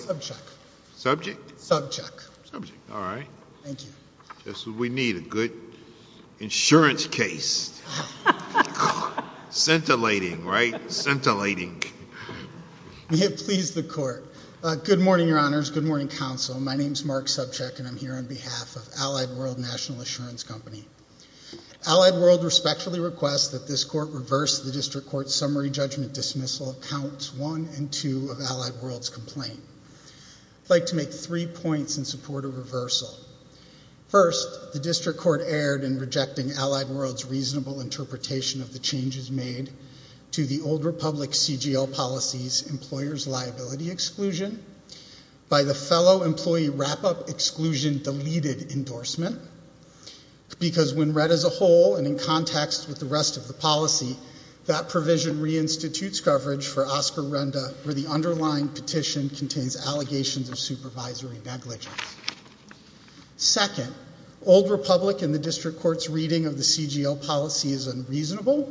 Subject. Subject? Subject. All right. Thank you. This is what we need, a good insurance case. Scintillating, right? Scintillating. May it please the court. Good morning, your honors. Good morning, counsel. My name is Mark Subcheck and I'm here on behalf of Allied World National Assurance Company. Allied World respectfully requests that this court reverse the district court summary judgment dismissal of counts one and two of Allied World's complaint. I'd like to make three points in support of reversal. First, the district court erred in rejecting Allied World's reasonable interpretation of the changes made to the Old Republic CGL policy's employer's liability exclusion by the fellow employee wrap-up exclusion deleted endorsement, because when read as a whole and in context with the rest of the policy, that provision reinstitutes coverage for Oscar Renda where the underlying petition contains allegations of supervisory negligence. Second, Old Republic and the district court's reading of the CGL policy is unreasonable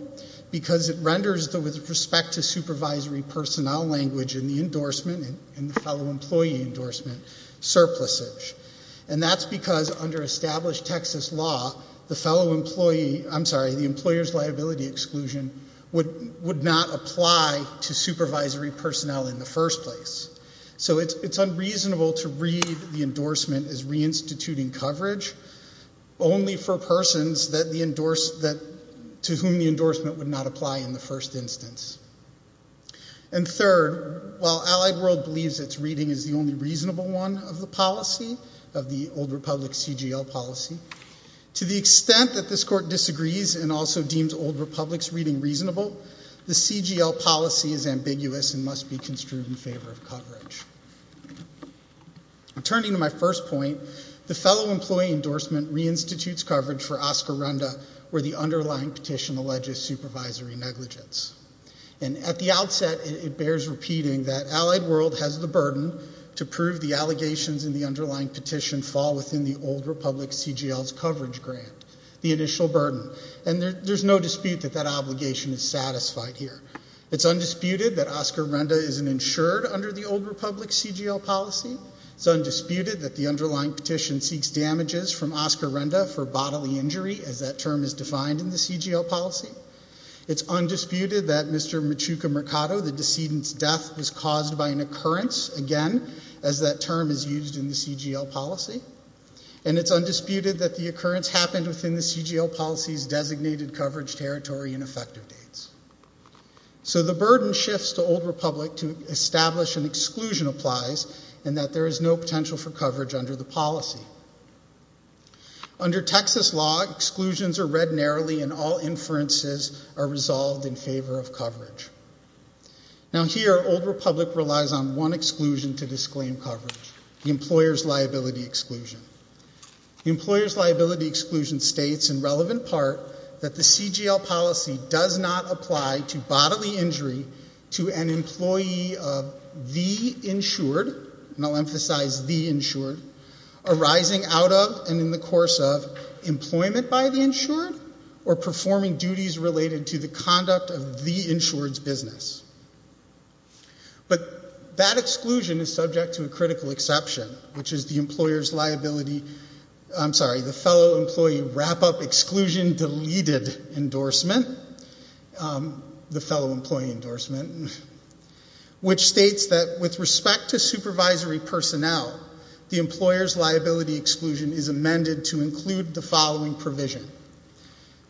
because it renders the with respect to supervisory personnel language in endorsement and the fellow employee endorsement surpluses. And that's because under established Texas law, the fellow employee, I'm sorry, the employer's liability exclusion would not apply to supervisory personnel in the first place. So it's unreasonable to read the endorsement as reinstituting coverage only for persons to whom the endorsement would not apply in the first instance. And third, while Allied World believes its reading is the only reasonable one of the policy, of the Old Republic CGL policy, to the extent that this court disagrees and also deems Old Republic's reading reasonable, the CGL policy is ambiguous and must be construed in favor of coverage. Turning to my first point, the fellow employee endorsement reinstitutes coverage for and at the outset it bears repeating that Allied World has the burden to prove the allegations in the underlying petition fall within the Old Republic CGL's coverage grant, the initial burden. And there's no dispute that that obligation is satisfied here. It's undisputed that Oscar Renda isn't insured under the Old Republic CGL policy. It's undisputed that the underlying petition seeks damages from Oscar Renda for bodily injury as that term is defined in the CGL policy. It's undisputed that Mr. Machuca Mercado, the decedent's death, was caused by an occurrence, again, as that term is used in the CGL policy. And it's undisputed that the occurrence happened within the CGL policy's designated coverage territory and effective dates. So the burden shifts to Old Republic to establish an exclusion applies and that there is no potential for coverage under the policy. Under Texas law, exclusions are read narrowly and all inferences are resolved in favor of coverage. Now here, Old Republic relies on one exclusion to disclaim coverage, the employer's liability exclusion. The employer's liability exclusion states in relevant part that the CGL policy does not apply to bodily injury to an employee of the insured, and I'll emphasize the insured, arising out of and in the course of employment by the insured or performing duties related to the conduct of the insured's business. But that exclusion is subject to a critical exception, which is the employer's liability, I'm sorry, the fellow employee wrap-up exclusion deleted endorsement, the fellow employee endorsement, which states that with respect to supervisory personnel, the employer's liability exclusion is amended to include the following provision.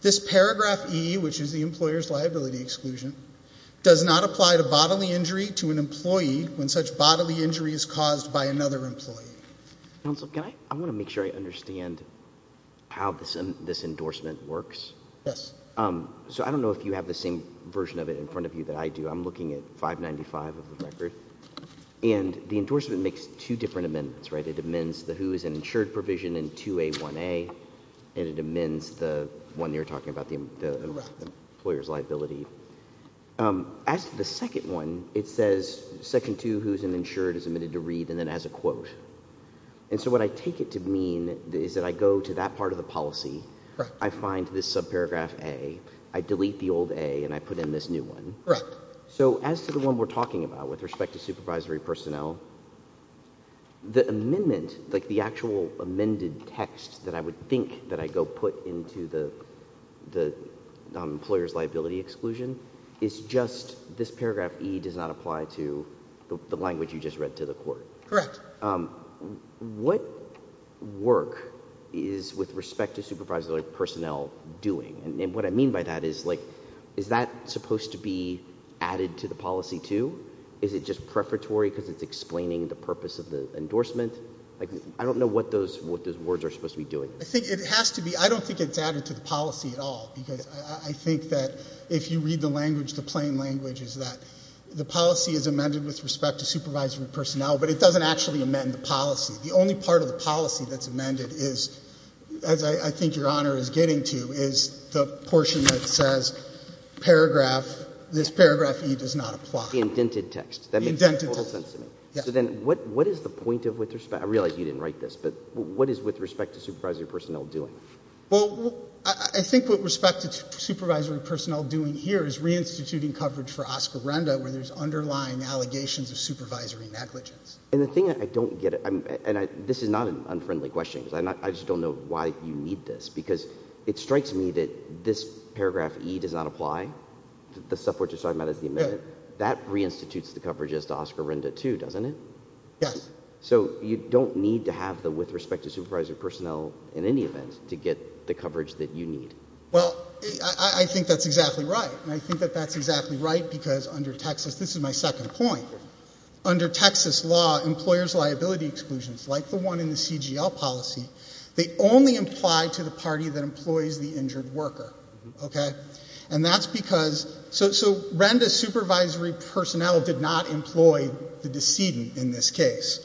This paragraph E, which is the employer's liability exclusion, does not apply to bodily injury to an employee when such bodily injury is caused by another employee. Counsel, can I, I want to make sure I understand how this endorsement works. Yes. So I don't know if you have the same version of it in front of you that I do. I'm looking at 595 of the record, and the endorsement makes two different amendments, right? It amends the who is an insured provision in 2A1A, and it amends the one you're talking about, the employer's liability. As to the second one, it says section two, who's an insured is admitted to read, and then has a quote. And so what I take it to mean is that I go to that part of the policy, I find this subparagraph A, I delete the old A, and I put in this new one. So as to the one we're talking about with respect to supervisory personnel, the amendment, like the actual amended text that I would think that I go put into the employer's liability exclusion, is just this paragraph E does not apply to the language you just read to the court. Correct. What work is with respect to supervisory personnel doing? And what I mean by that is, like, is that supposed to be added to the policy too? Is it just prefatory because it's explaining the purpose of the endorsement? Like, I don't know what those words are supposed to be doing. I think it has to be. I don't think it's added to the policy at all, because I think that if you read the language, the plain language is that the policy is amended with respect to supervisory personnel, but it doesn't actually amend the policy. The only part of the policy that's amended is, as I think Your Honor is getting to, is the portion that says, paragraph, this paragraph E does not apply. The indented text. The indented text. That makes total sense to me. So then what is the point of, with respect, I realize you didn't write this, but what is with respect to supervisory personnel doing? Well, I think what respect to supervisory personnel doing here is reinstituting coverage for Oscarenda, where there's underlying allegations of supervisory negligence. And the thing I don't get, and this is not an unfriendly question, because I just don't know why you need this, because it strikes me that this paragraph E does not apply, the stuff we're just talking about is the amendment. That reinstitutes the coverage as to Oscarenda too, doesn't it? Yes. So you don't need to have the with respect to supervisory personnel in any event to get the coverage that you need. Well, I think that's exactly right, and I think that that's exactly right, because under Texas, this is my second point, under Texas law, employer's liability exclusions, like the one in the CGL policy, they only apply to the party that employs the injured worker, okay? And that's because, so, so Renda supervisory personnel did not employ the decedent in this case.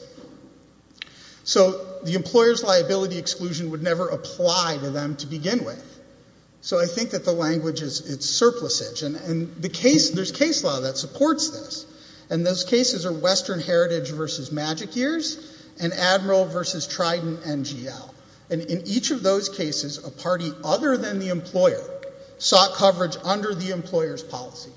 So the employer's liability exclusion would never apply to them to begin with. So I think that the language is, it's surplusage, and the case, there's case law that supports this, and those cases are Western Heritage versus Magic Years, and Admiral versus Trident NGL. And in each of those cases, a party other than the employer sought coverage under the employer's policy.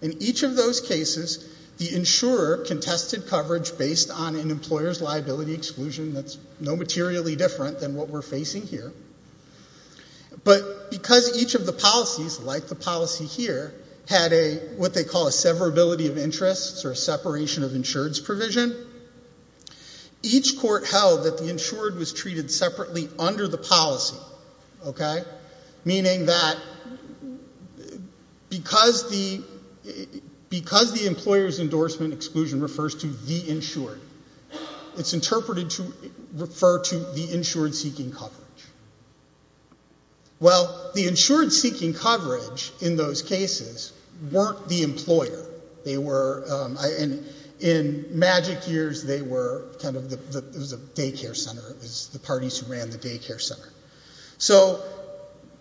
In each of those cases, the insurer contested coverage based on an employer's But because each of the policies, like the policy here, had a, what they call a severability of interests, or a separation of insureds provision, each court held that the insured was treated separately under the policy, okay? Meaning that because the, because the employer's endorsement exclusion refers to the insured, it's interpreted to refer to the insured seeking coverage. Well, the insured seeking coverage in those cases weren't the employer. They were, and in Magic Years, they were kind of the, it was a daycare center, it was the parties who ran the daycare center. So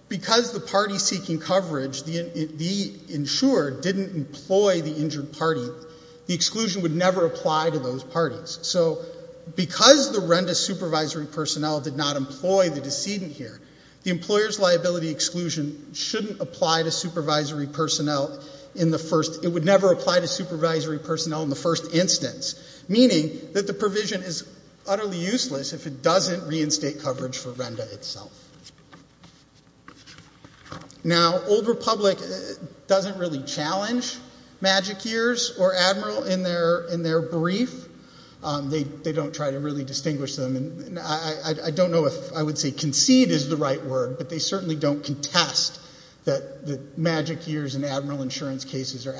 because the party seeking coverage, the insured didn't employ the injured party, the exclusion would never apply to those parties. So because the Renda supervisory personnel did not employ the decedent here, the employer's liability exclusion shouldn't apply to supervisory personnel in the first, it would never apply to supervisory personnel in the first instance. Meaning that the provision is utterly useless if it doesn't reinstate coverage for Renda itself. Now, Old Republic doesn't really challenge Magic Years or Admiral in their brief. They don't try to really distinguish them, and I don't know if I would say concede is the right word, but they certainly don't contest that the Magic Years and Admiral insurance cases are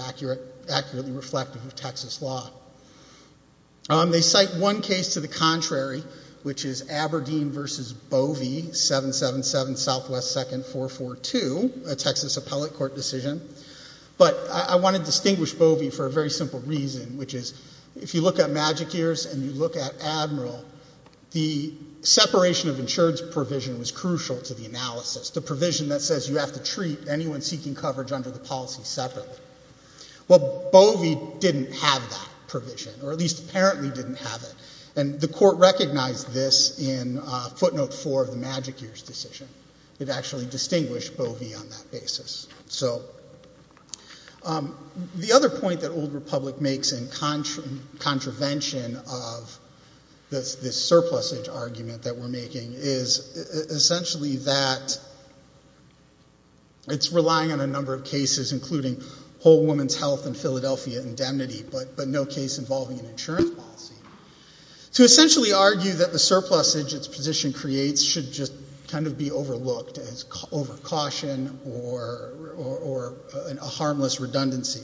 accurately reflective of Texas law. They cite one case to the contrary, which is Aberdeen v. Bovee, 777 Southwest 2nd, 442, a Texas appellate court decision. But I want to distinguish Bovee for a very simple reason, which is if you look at Magic Years and you look at Admiral, the separation of insurance provision was crucial to the analysis, the provision that says you have to treat anyone seeking coverage under the policy separately. Well, Bovee didn't have that provision, or at least apparently didn't have it, and the court recognized this in footnote four of the Magic Years decision. It actually distinguished Bovee on that basis. So the other point that Old Republic makes in contravention of this surplusage argument that we're making is essentially that it's relying on a number of cases, including Whole Woman's Health and Philadelphia indemnity, but no case involving an insurance policy, to essentially argue that the surplusage its overcaution or a harmless redundancy.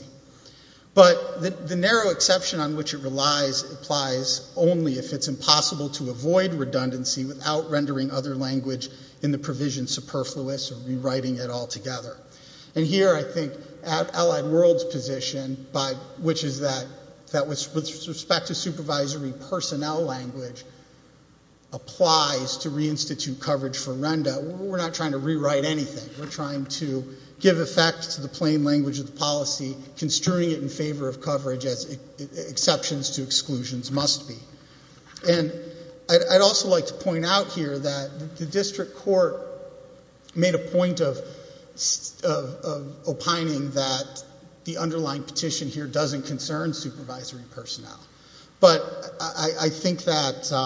But the narrow exception on which it relies applies only if it's impossible to avoid redundancy without rendering other language in the provision superfluous or rewriting it altogether. And here I think Allied World's position, which is that with respect to supervisory personnel language, applies to reinstitute coverage for RENDA. We're not trying to rewrite anything. We're trying to give effect to the plain language of the policy, construing it in favor of coverage as exceptions to exclusions must be. And I'd also like to point out here that the district court made a point of opining that the underlying petition here doesn't concern supervisory personnel. But I think that's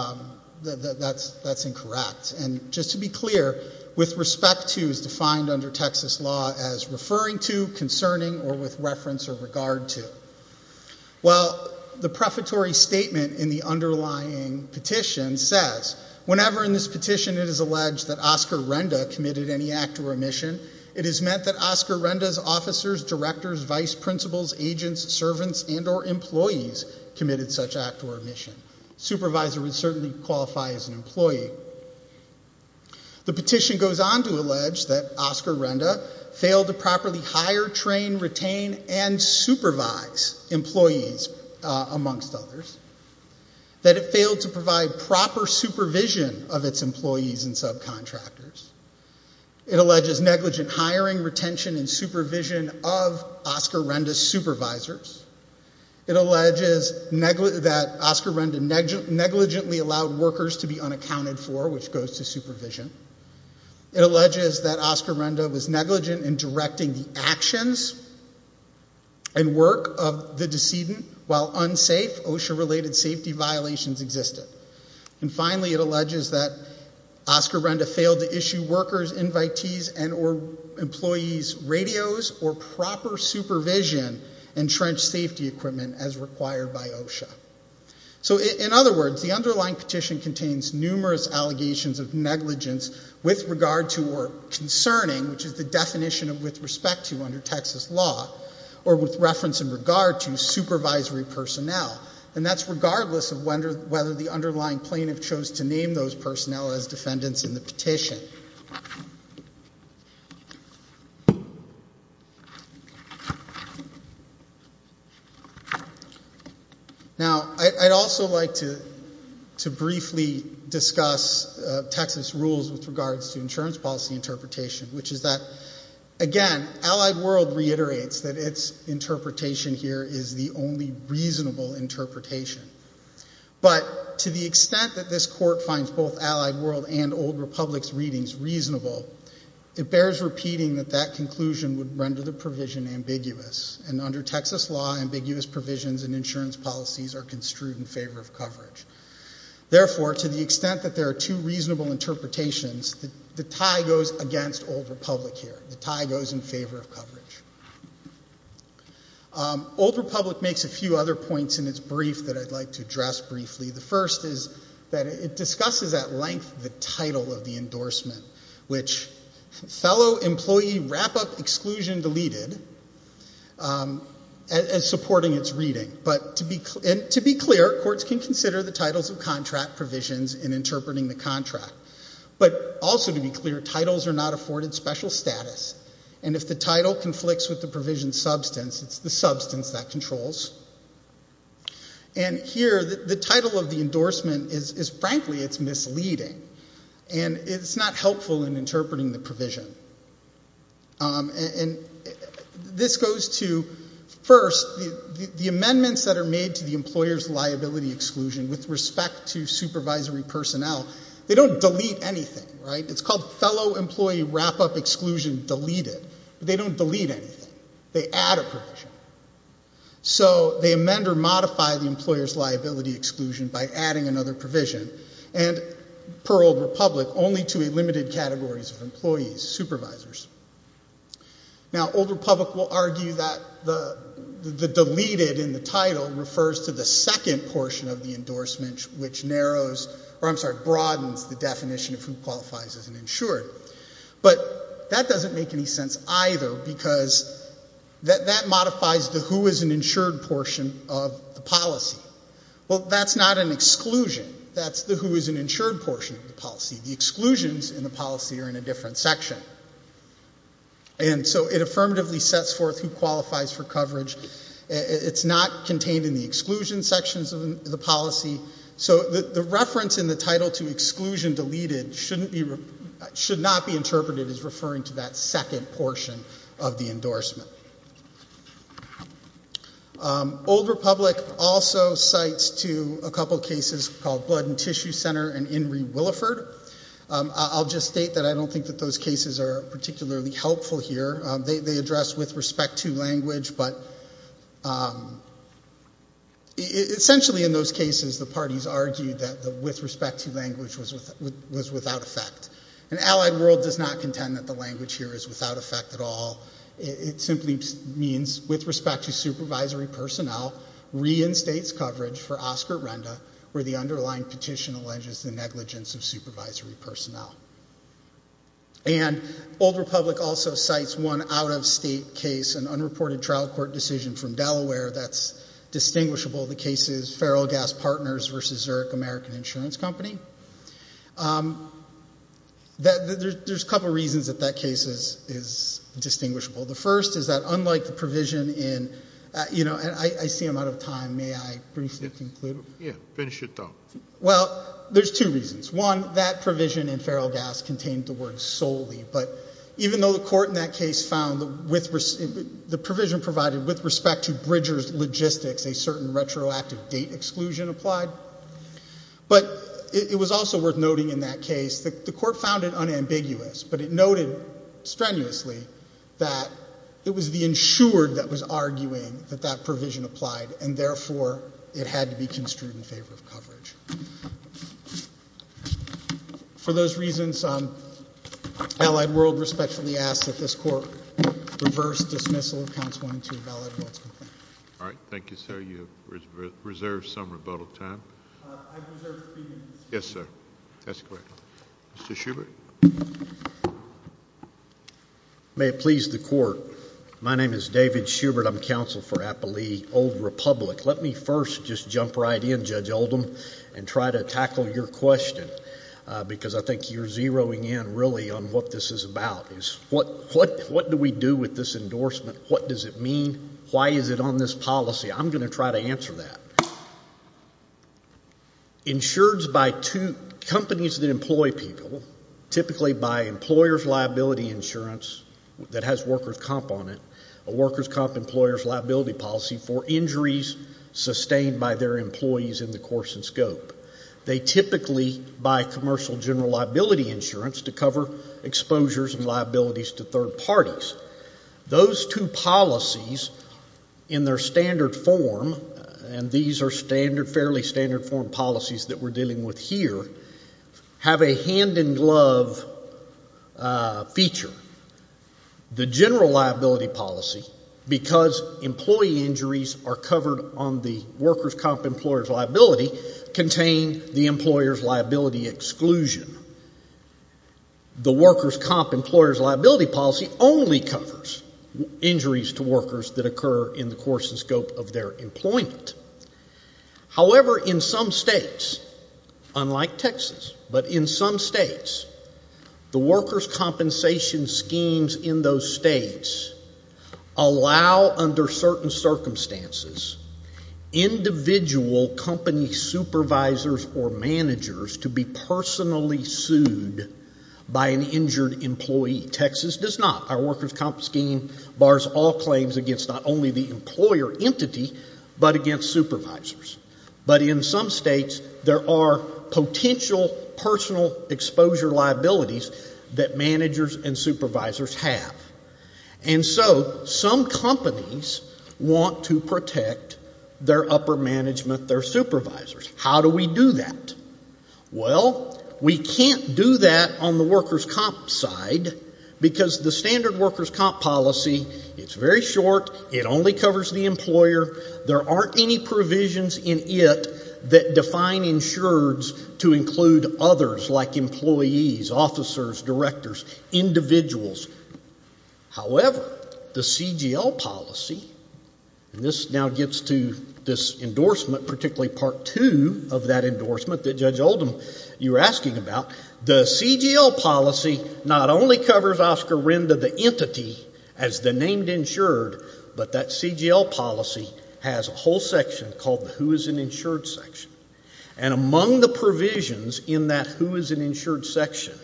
incorrect. And just to be clear, with respect to is defined under Texas law as referring to, concerning, or with reference or regard to. Well, the prefatory statement in the underlying petition says, whenever in this petition it is alleged that Oscar RENDA committed any act or omission, it is meant that Oscar RENDA's officers, directors, vice principals, agents, servants, and or employees committed such act or omission. Supervisor would certainly qualify as an employee. The petition goes on to allege that Oscar RENDA failed to properly hire, train, retain, and supervise employees amongst others. That it failed to provide proper supervision of its employees and subcontractors. It alleges negligent hiring, retention, and supervision of Oscar RENDA's supervisors. It alleges that Oscar RENDA negligently allowed workers to be unaccounted for, which goes to supervision. It alleges that Oscar RENDA was negligent in directing the actions and work of the decedent while unsafe OSHA-related safety violations existed. And finally, it alleges that Oscar RENDA failed to issue workers, invitees, and or employees radios or proper supervision and trench safety equipment as required by OSHA. So in other words, the underlying petition contains numerous allegations of negligence with regard to or concerning, which is the definition of with respect to under Texas law, or with reference in regard to supervisory personnel. And that's regardless of whether the underlying plaintiff chose to name those personnel as defendants in the petition. Now, I'd also like to briefly discuss Texas rules with regards to insurance policy interpretation, which is that, again, Allied World reiterates that its interpretation here is the only reasonable interpretation. But to the extent that this court finds both Allied World and Old Republic's reasonable, it bears repeating that that conclusion would render the provision ambiguous. And under Texas law, ambiguous provisions and insurance policies are construed in favor of coverage. Therefore, to the extent that there are two reasonable interpretations, the tie goes against Old Republic here. The tie goes in favor of coverage. Old Republic makes a few other points in its brief that I'd like to address briefly. The first is that it discusses at length the title of the endorsement, which fellow employee wrap-up exclusion deleted as supporting its reading. But to be clear, courts can consider the titles of contract provisions in interpreting the contract. But also to be clear, titles are not afforded special status. And if the title conflicts with the provision substance, it's the substance that frankly it's misleading. And it's not helpful in interpreting the provision. And this goes to, first, the amendments that are made to the employer's liability exclusion with respect to supervisory personnel, they don't delete anything, right? It's called fellow employee wrap-up exclusion deleted. They don't delete anything. They add a provision. So they amend or modify the employer's liability exclusion by adding another provision, and per Old Republic, only to a limited categories of employees, supervisors. Now Old Republic will argue that the deleted in the title refers to the second portion of the endorsement, which narrows, or I'm sorry, broadens the definition of who qualifies as an insured portion of the policy. Well, that's not an exclusion. That's the who is an insured portion of the policy. The exclusions in the policy are in a different section. And so it affirmatively sets forth who qualifies for coverage. It's not contained in the exclusion sections of the policy. So the reference in the title to exclusion deleted should not be omitted. Old Republic also cites to a couple of cases called Blood and Tissue Center and Inree Williford. I'll just state that I don't think that those cases are particularly helpful here. They address with respect to language, but essentially in those cases, the parties argued that the with respect to language was without effect. And Allied World does not contend that language here is without effect at all. It simply means with respect to supervisory personnel, reinstates coverage for Oscar Renda where the underlying petition alleges the negligence of supervisory personnel. And Old Republic also cites one out of state case, an unreported trial court decision from Delaware that's distinguishable. The case is Feral Gas Partners versus Zurich American Insurance Company. There's a couple of reasons that that case is distinguishable. The first is that unlike the provision in, you know, and I see I'm out of time, may I briefly conclude? Yeah, finish it though. Well, there's two reasons. One, that provision in Feral Gas contained the word solely, but even though the court in that case found the provision provided with respect to Bridger's logistics, a certain retroactive date exclusion applied. But it was also worth noting in that case that the court found it unambiguous, but it noted strenuously that it was the insured that was arguing that that provision applied and therefore it had to be construed in favor of coverage. For those reasons, Allied World respectfully asks that this court reverse dismissal of All right. Thank you, sir. You have reserved some rebuttal time. Yes, sir. That's correct. Mr. Schubert. May it please the court. My name is David Schubert. I'm counsel for Applee Old Republic. Let me first just jump right in, Judge Oldham, and try to tackle your question because I think you're zeroing in really on what this is about is what do we do with this endorsement? What does it mean? Why is it on this policy? I'm going to try to answer that. Insureds by two companies that employ people, typically by employer's liability insurance that has worker's comp on it, a worker's comp employer's liability policy for injuries sustained by their employees in the course and scope. They typically buy commercial general insurance to cover exposures and liabilities to third parties. Those two policies in their standard form, and these are fairly standard form policies that we're dealing with here, have a hand in glove feature. The general liability policy, because employee injuries are covered on the worker's comp employer's liability, contain the employer's liability exclusion. The worker's comp employer's liability policy only covers injuries to workers that occur in the course and scope of their employment. However, in some states, unlike Texas, but in some states, the worker's compensation schemes in those states allow under certain circumstances individual company supervisors or managers to be personally sued by an injured employee. Texas does not. Our worker's comp scheme bars all claims against not only the employer entity, but against supervisors. But in some states, there are want to protect their upper management, their supervisors. How do we do that? Well, we can't do that on the worker's comp side, because the standard worker's comp policy, it's very short, it only covers the employer, there aren't any provisions in it that define insureds to include others like employees, officers, directors, individuals. However, the CGL policy, and this now gets to this endorsement, particularly part two of that endorsement that Judge Oldham, you were asking about, the CGL policy not only covers Oscar Renda, the entity, as the named insured, but that CGL policy has a whole section called the who is an insured section. And among the provisions in that who is an insured section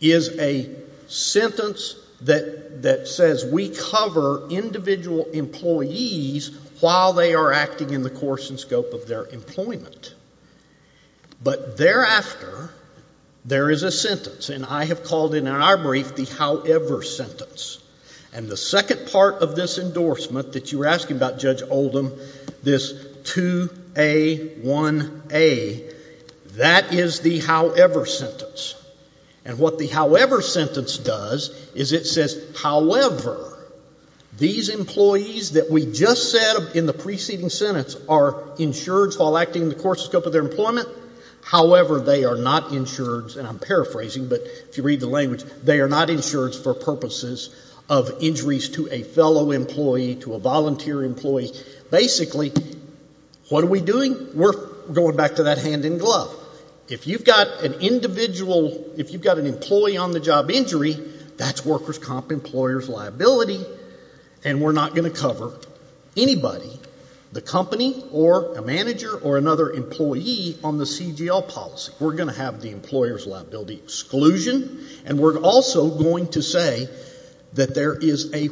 is a sentence that says we cover individual employees while they are acting in the course and scope of their employment. But thereafter, there is a sentence, and I have called it in our brief the however sentence. And the second part of this endorsement that you were asking about, Judge Oldham, this 2A1A, that is the however sentence. And what the however sentence does is it says, however, these employees that we just said in the preceding sentence are insureds while acting in the course and scope of their employment, however, they are not insureds, and I'm paraphrasing, but if you read the language, they are not insureds for purposes of injuries to a fellow employee, to a volunteer employee. Basically, what are we doing? We're going back to that hand in glove. If you've got an individual, if you've got an employee on the job injury, that's workers' comp employers' liability, and we're not going to cover anybody, the company or a manager or another employee on the CGL policy. We're going to have the employers' liability exclusion, and we're also going to say that there is a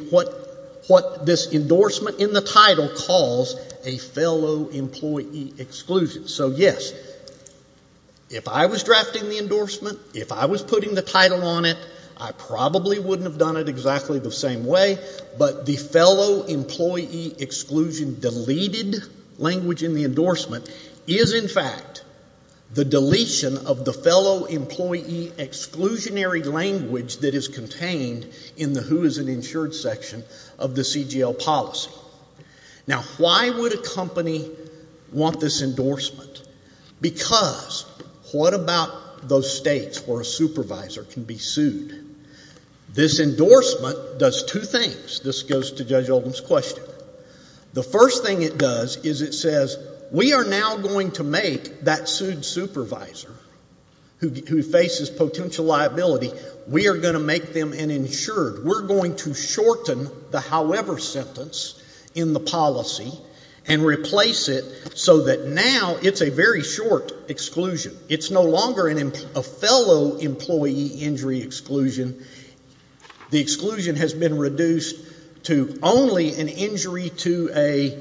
what this endorsement in the title calls a fellow employee exclusion. So, yes, if I was drafting the endorsement, if I was putting the title on it, I probably wouldn't have done it exactly the same way, but the fellow employee exclusion deleted language in the endorsement is, in fact, the deletion of the fellow employee exclusionary language that is contained in the who is an insured section of the CGL policy. Now, why would a company want this endorsement? Because what about those states where a supervisor can be sued? This endorsement does two things. This goes to Judge Oldham's question. The first thing it does is it says, we are now going to make that sued supervisor who faces potential liability, we are going to make them an insured. We're going to shorten the however sentence in the policy and replace it so that now it's a very short exclusion. It's no longer a fellow employee injury exclusion. The exclusion has been reduced to only an injury to a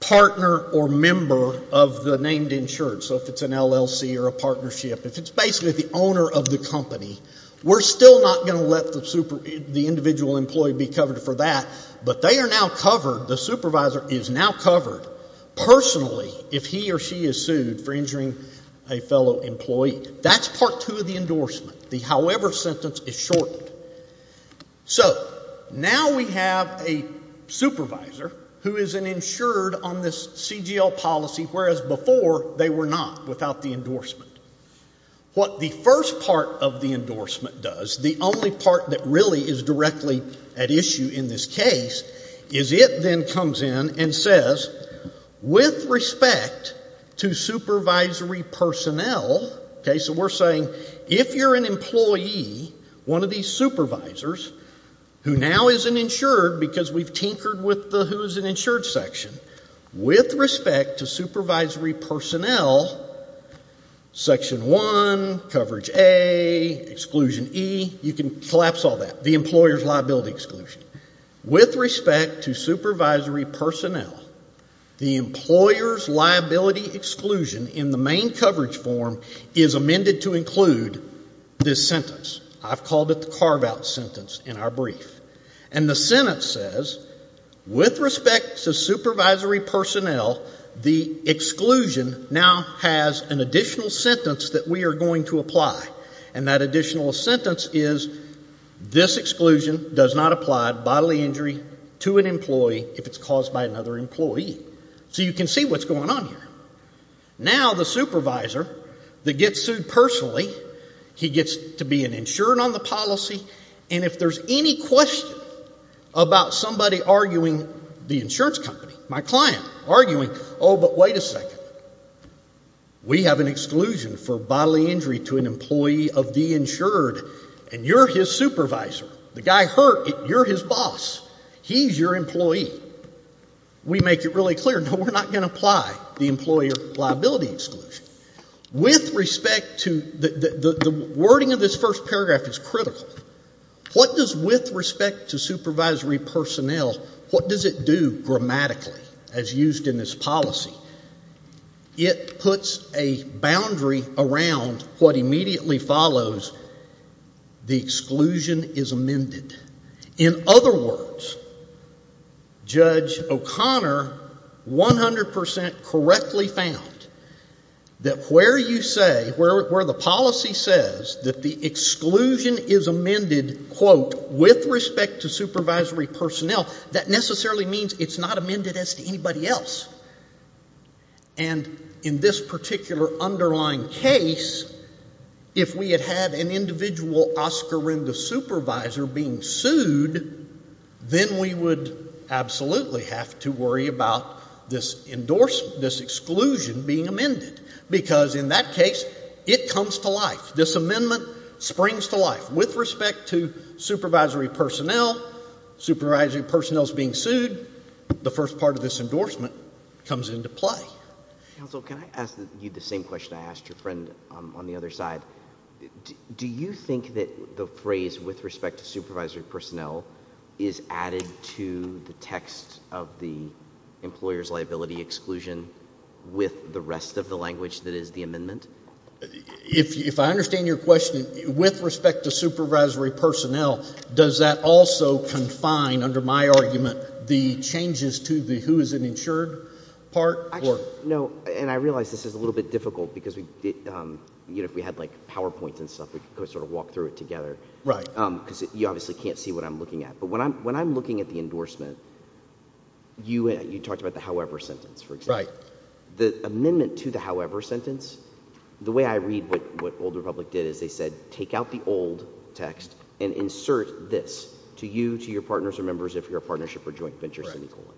partner or member of the named insured. So if it's an LLC or a partnership, if it's basically the owner of the company, we're still not going to let the individual employee be covered for that, but they are now covered, the supervisor is now covered personally if he or she is sued for injuring a fellow employee. That's part two of the endorsement. The however sentence is shortened. So now we have a supervisor who is an insured on this CGL policy, whereas before they were not without the endorsement. What the first part of the endorsement does, the only part that really is directly at issue in this case, is it then comes in and says, with respect to supervisory personnel, okay, so we're saying if you're an employee, one of these supervisors, who now is an insured because we've tinkered with the who is an insured section, with respect to supervisory personnel, section one, coverage A, exclusion E, you can collapse all that, the employer's liability exclusion. With respect to supervisory personnel, the employer's liability exclusion in the main coverage form is amended to include this sentence. I've called it the carve out sentence in our brief. And the sentence says, with respect to supervisory personnel, the exclusion now has an additional sentence that we are going to apply. And that additional sentence is, this exclusion does not apply bodily injury to an employee if it's caused by another employee. So you can see what's going on here. Now the supervisor that gets sued personally, he gets to be an insured on the policy, and if there's any question about somebody arguing, the insurance company, my client, arguing, oh, but wait a second, we have an exclusion for bodily injury to an employee of the insured, and you're his supervisor. The guy hurt, you're his boss. He's your employee. We make it really clear, no, we're not going to apply the employer liability exclusion. With respect to, the wording of this first paragraph is critical. What does with respect to supervisory personnel, what does it do grammatically as used in this policy? It puts a boundary around what immediately follows the exclusion is amended. In other words, Judge O'Connor 100% correctly found that where you say, where the policy says that the exclusion is amended, quote, with respect to supervisory personnel, that necessarily means it's not amended as to anybody else. And in this particular underlying case, if we had had an individual Oscarinda supervisor being sued, then we would absolutely have to worry about this endorsement, this exclusion being amended. Because in that case, it comes to life. This amendment springs to life. With respect to supervisory personnel, supervisory personnel's being sued, the first part of this endorsement comes into play. Counsel, can I ask you the same question I asked your friend on the other side? Do you think that the phrase with respect to supervisory personnel is added to the text of the employer's liability exclusion with the rest of the language that is the amendment? If I understand your question, with respect to supervisory personnel, does that also confine, under my argument, the changes to the who is an insured part? And I realize this is a little bit difficult because if we had PowerPoints and stuff, we could walk through it together. Because you obviously can't see what I'm looking at. But when I'm looking at the endorsement, you talked about the however sentence, for example. The amendment to the however sentence, the way I read what Old Republic did is they said, take out the old text and insert this, to you, to your partners or members, if you're a partnership or joint venture, semicolon.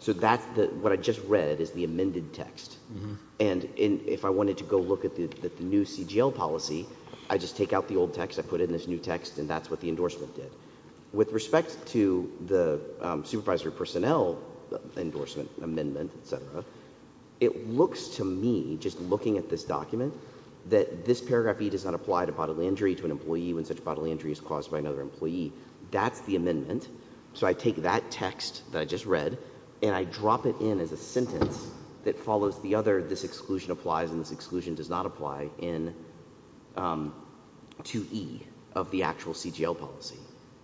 So what I just read is the amended text. And if I wanted to go look at the new CGL policy, I just take out the old text, I put in this new text, and that's what the endorsement did. With respect to the supervisory personnel endorsement amendment, et cetera, it looks to me, just looking at this document, that this paragraph E does not apply to bodily injury to an employee when such bodily injury is caused by another employee. That's the amendment. So I take that text that I just read and I drop it in as a sentence that follows the other, this exclusion applies and this exclusion does not apply in 2E of the actual CGL policy.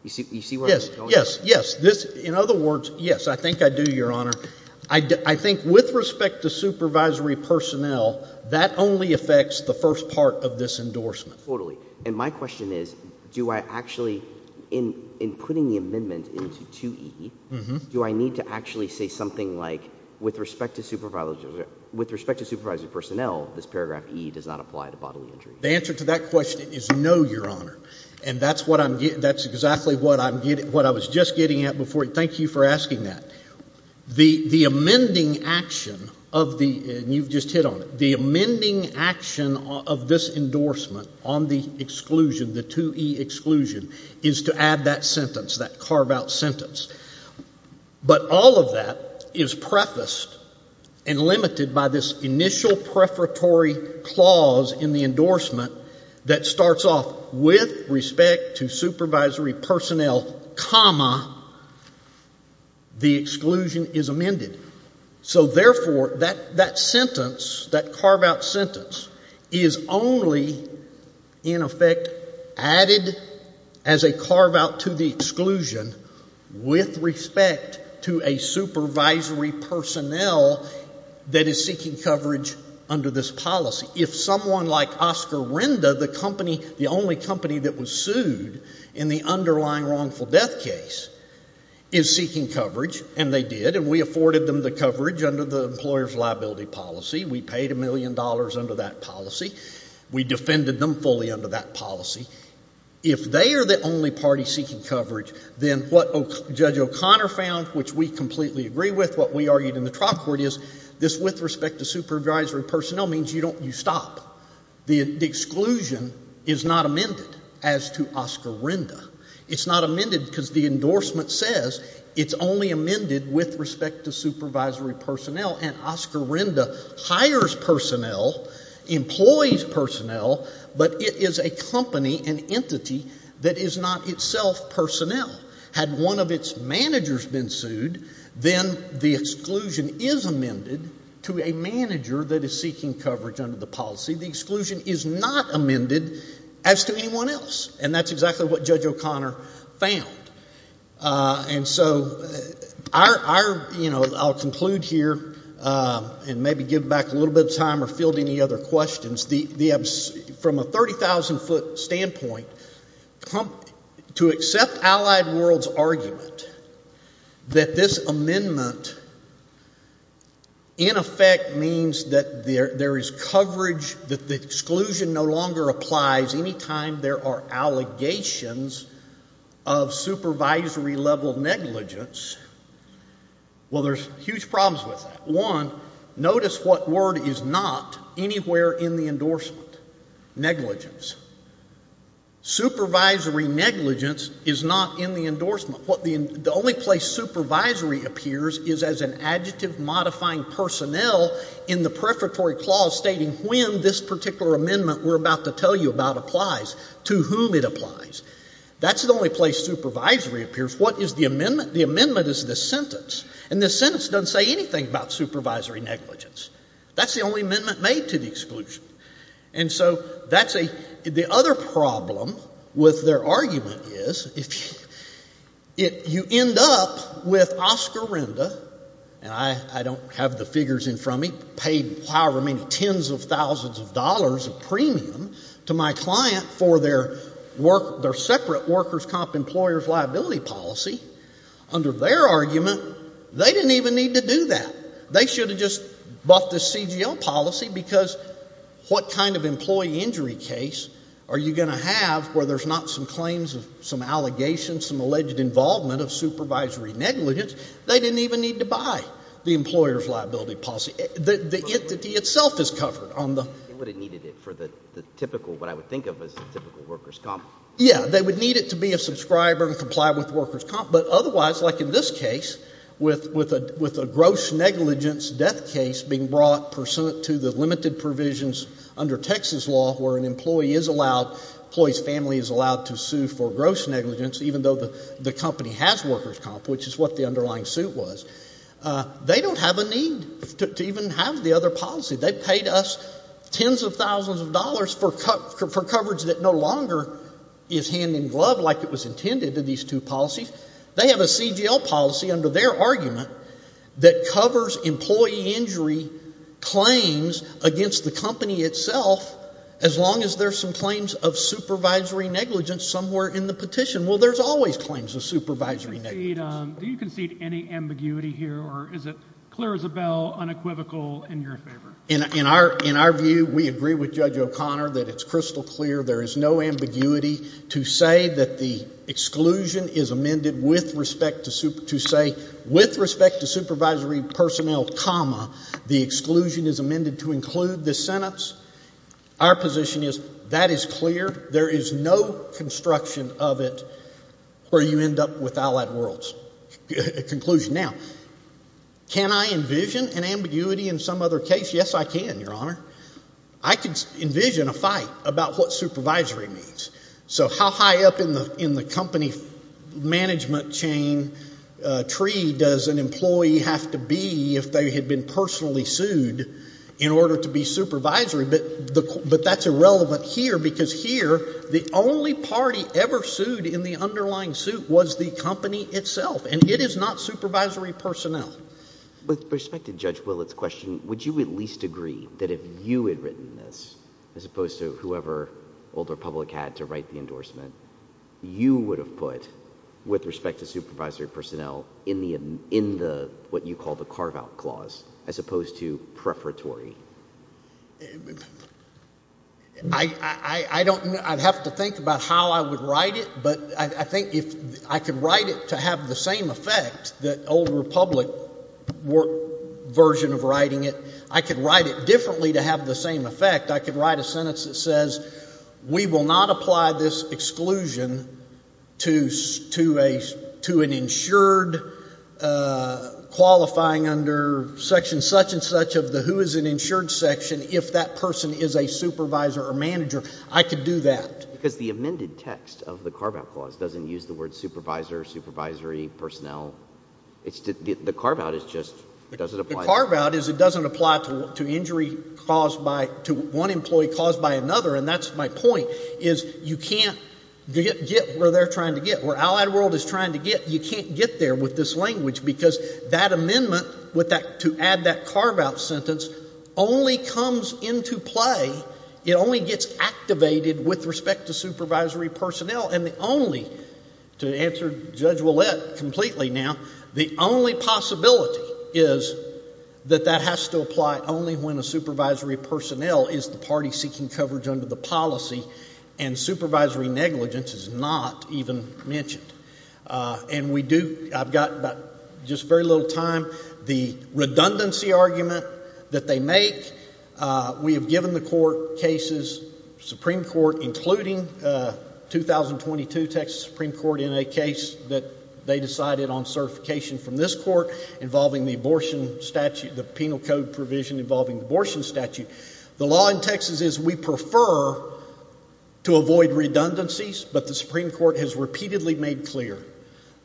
You see where I'm going? Yes, yes. In other words, yes, I think I do, Your Honor. I think with respect to supervisory personnel, that only affects the first part of this endorsement. Totally. And my question is, do I actually, in putting the amendment into 2E, do I need to paragraph E does not apply to bodily injury? The answer to that question is no, Your Honor. And that's what I'm getting, that's exactly what I'm getting, what I was just getting at before. Thank you for asking that. The amending action of the, and you've just hit on it, the amending action of this endorsement on the exclusion, the 2E exclusion, is to add that sentence, that carve-out sentence. But all of that is prefaced and limited by this initial preparatory clause in the endorsement that starts off with respect to supervisory personnel, comma, the exclusion is amended. So therefore, that sentence, that carve-out sentence, is only, in effect, added as a carve-out to the exclusion with respect to a supervisory personnel that is seeking coverage under this policy. If someone like Oscar Renda, the company, the only company that was sued in the underlying wrongful death case, is seeking coverage, and they did, and we afforded them the coverage under the employer's liability policy, we paid a million dollars under that policy, we defended them fully under that policy, if they are the only party seeking coverage, then what Judge O'Connor found, which we completely agree with, what we argued in the trial court is, this with respect to supervisory personnel means you don't, you stop. The exclusion is not amended as to Oscar Renda. It's not amended because the endorsement says it's only amended with respect to supervisory personnel, and Oscar Renda hires personnel, employs personnel, but it is a company, an entity, that is not itself personnel. Had one of its managers been sued, then the exclusion is amended to a manager that is seeking coverage under the policy. The exclusion is not amended as to anyone else, and that's give back a little bit of time or field any other questions. From a 30,000 foot standpoint, to accept Allied World's argument that this amendment in effect means that there is coverage, that the exclusion no longer applies any time there are allegations of supervisory level negligence, well, there's huge problems with that. One, notice what word is not anywhere in the endorsement, negligence. Supervisory negligence is not in the endorsement. The only place supervisory appears is as an adjective modifying personnel in the prefatory clause stating when this particular amendment we're about to tell you about applies, to whom it applies. That's the only place this sentence, and this sentence doesn't say anything about supervisory negligence. That's the only amendment made to the exclusion. And so that's a, the other problem with their argument is, if you end up with Oscar Renda, and I don't have the figures in front of me, paid however many tens of thousands of dollars of premium to my client for their work, their argument, they didn't even need to do that. They should have just bought this CGL policy, because what kind of employee injury case are you going to have where there's not some claims of some allegations, some alleged involvement of supervisory negligence? They didn't even need to buy the employer's liability policy. The entity itself is covered on the... They would have needed it for the typical, what I would think of as the typical workers' comp. Yeah, they would need it to be a subscriber and comply with workers' comp, but otherwise, like in this case, with a gross negligence death case being brought pursuant to the limited provisions under Texas law where an employee is allowed, employee's family is allowed to sue for gross negligence, even though the company has workers' comp, which is what the underlying suit was. They don't have a need to even have the other policy. They paid us tens of thousands of dollars for coverage that no longer is hand-in-glove like it was intended to these two under their argument that covers employee injury claims against the company itself, as long as there's some claims of supervisory negligence somewhere in the petition. Well, there's always claims of supervisory negligence. Do you concede any ambiguity here, or is it clear as a bell, unequivocal, in your favor? In our view, we agree with Judge O'Connor that it's to say, with respect to supervisory personnel, comma, the exclusion is amended to include the sentence. Our position is that is clear. There is no construction of it where you end up with allied worlds. Conclusion. Now, can I envision an ambiguity in some other case? Yes, I can, Your Honor. I can envision a fight about what supervisory means. So how high up in the company management chain tree does an employee have to be if they had been personally sued in order to be supervisory? But that's irrelevant here, because here, the only party ever sued in the underlying suit was the company itself, and it is not supervisory personnel. With respect to Judge Willett's question, would you at least agree that if you had written this, as opposed to Old Republic had to write the endorsement, you would have put, with respect to supervisory personnel, in what you call the carve-out clause, as opposed to preferatory? I'd have to think about how I would write it, but I think if I could write it to have the same effect that Old Republic version of writing it, I could write it differently to have the same effect. It says, we will not apply this exclusion to an insured qualifying under section such and such of the who is an insured section if that person is a supervisor or manager. I could do that. Because the amended text of the carve-out clause doesn't use the word supervisor, supervisory personnel. The carve-out is just, it doesn't apply. The carve-out is it doesn't apply to one employee caused by another, and that's my point, is you can't get where they're trying to get. Where Allied World is trying to get, you can't get there with this language, because that amendment to add that carve-out sentence only comes into play, it only gets activated with respect to supervisory personnel, and the only, to answer Judge Willett completely now, the only possibility is that that has to apply only when a supervisory personnel is the party seeking coverage under the policy, and supervisory negligence is not even mentioned. And we do, I've got just very little time, the redundancy argument that they make, we have given the court cases, Supreme Court, including 2022 Texas Supreme Court in a case that they decided on certification from this court involving the abortion statute, the penal code provision involving abortion statute. The law in Texas is we prefer to avoid redundancies, but the Supreme Court has repeatedly made clear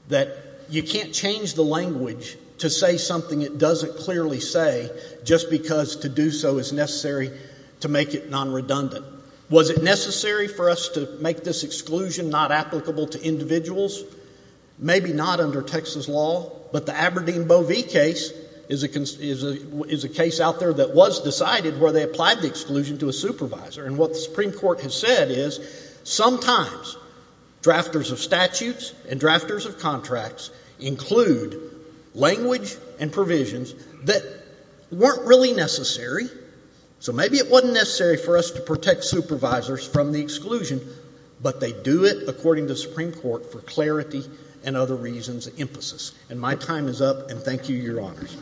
that you can't change the language to say something it doesn't clearly say just because to do so is necessary to make it non-redundant. Was it necessary for us to make this exclusion not applicable to individuals? Maybe not under Texas law, but the Aberdeen Boe V case is a case out there that was decided where they applied the exclusion to a supervisor, and what the Supreme Court has said is sometimes drafters of statutes and drafters of contracts include language and provisions that weren't really necessary, so maybe it wasn't necessary for us to protect supervisors from the exclusion, but they do it, according to the Supreme Court, for clarity and other reasons of emphasis. And my time is up, and thank you, Your Honors.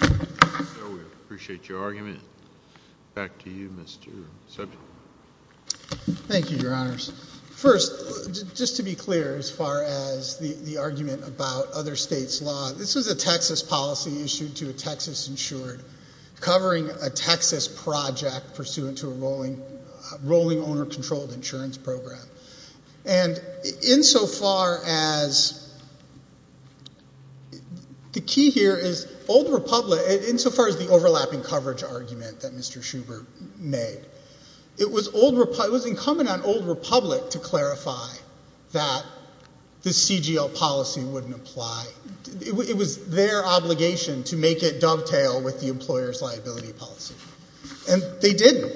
So we appreciate your argument. Back to you, Mr. Subject. Thank you, Your Honors. First, just to be clear as far as the argument about other states' law, this was a Texas policy issued to a Texas insured covering a Texas project pursuant to a rolling owner-controlled insurance program, and insofar as the key here is Old Republic, insofar as the overlapping coverage argument that Mr. Schubert made, it was incumbent on Old Republic to clarify that the CGL policy wouldn't apply. It was their obligation to make it dovetail with the employer's liability policy, and they didn't,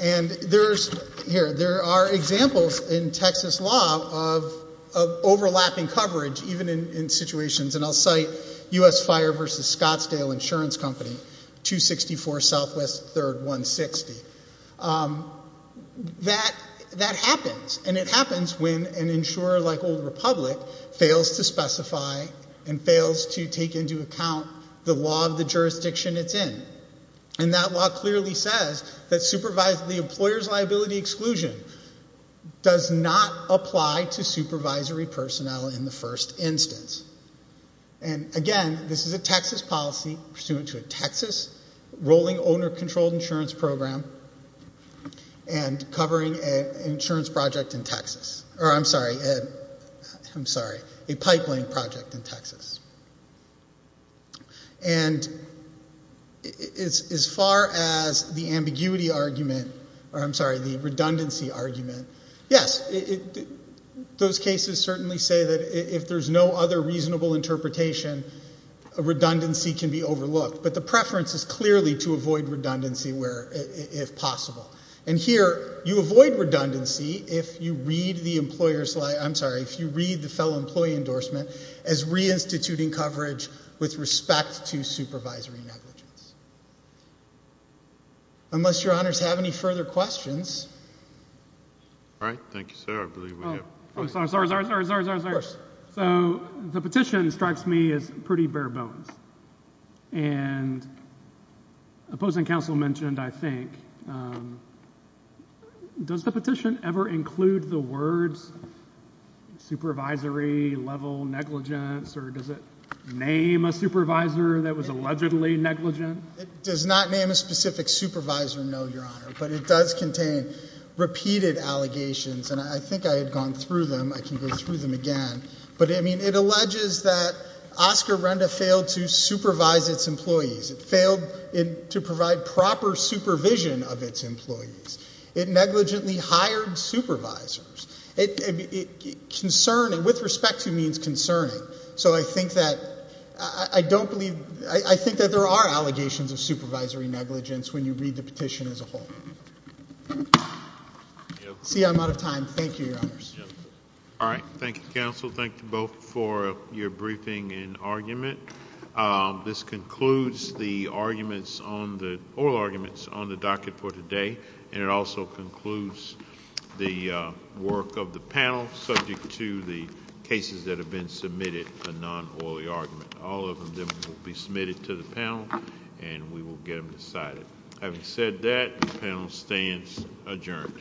and there are examples in Texas law of overlapping coverage, even in situations, and I'll cite U.S. Fire v. Scottsdale Insurance Company, 264 Southwest 3rd, 160. That happens, and it happens when an insurer like Old Republic fails to specify and fails to take into account the law of the jurisdiction it's in, and that law clearly says that the employer's liability exclusion does not apply to supervisory personnel in the first instance. And again, this is a Texas policy pursuant to a Texas rolling owner-controlled insurance program and covering an insurance project in Texas, or I'm sorry, I'm sorry, a pipeline project in Texas. And as far as the ambiguity argument, or I'm sorry, the redundancy argument, yes, those cases certainly say that if there's no other reasonable interpretation, a redundancy can be overlooked, but the preference is clearly to avoid redundancy where, if possible, and here, you avoid redundancy if you read the employer's, I'm sorry, if you read the fellow employee endorsement as reinstituting coverage with respect to supervisory negligence. Unless your honors have any further questions. All right, thank you, sir. I believe we have. Oh, sorry, sorry, sorry, sorry, sorry, sorry, sorry. Of course. So the petition strikes me as pretty bare bones, and opposing counsel mentioned, I think, does the petition ever include the words supervisory level negligence, or does it name a supervisor that was allegedly negligent? It does not name a specific supervisor, no, your honor, but it does contain repeated allegations, and I think I had gone through them. I can go through them again, but I mean, it alleges that Oscar Renda failed to supervise its employees. It failed to provide proper supervision of its employees. It negligently hired supervisors. Concerning, with respect to means concerning, so I think that, I don't believe, I think that there are allegations of supervisory negligence when you read the petition as a whole. See, I'm out of time. Thank you, your honors. All right, thank you, counsel. Thank you both for your briefing and argument. This concludes the oral arguments on the docket for today, and it also concludes the work of the panel subject to the cases that have been submitted, a non-oily argument. All of them will be submitted to the panel, and we will get them decided. Having said that, the panel stands adjourned.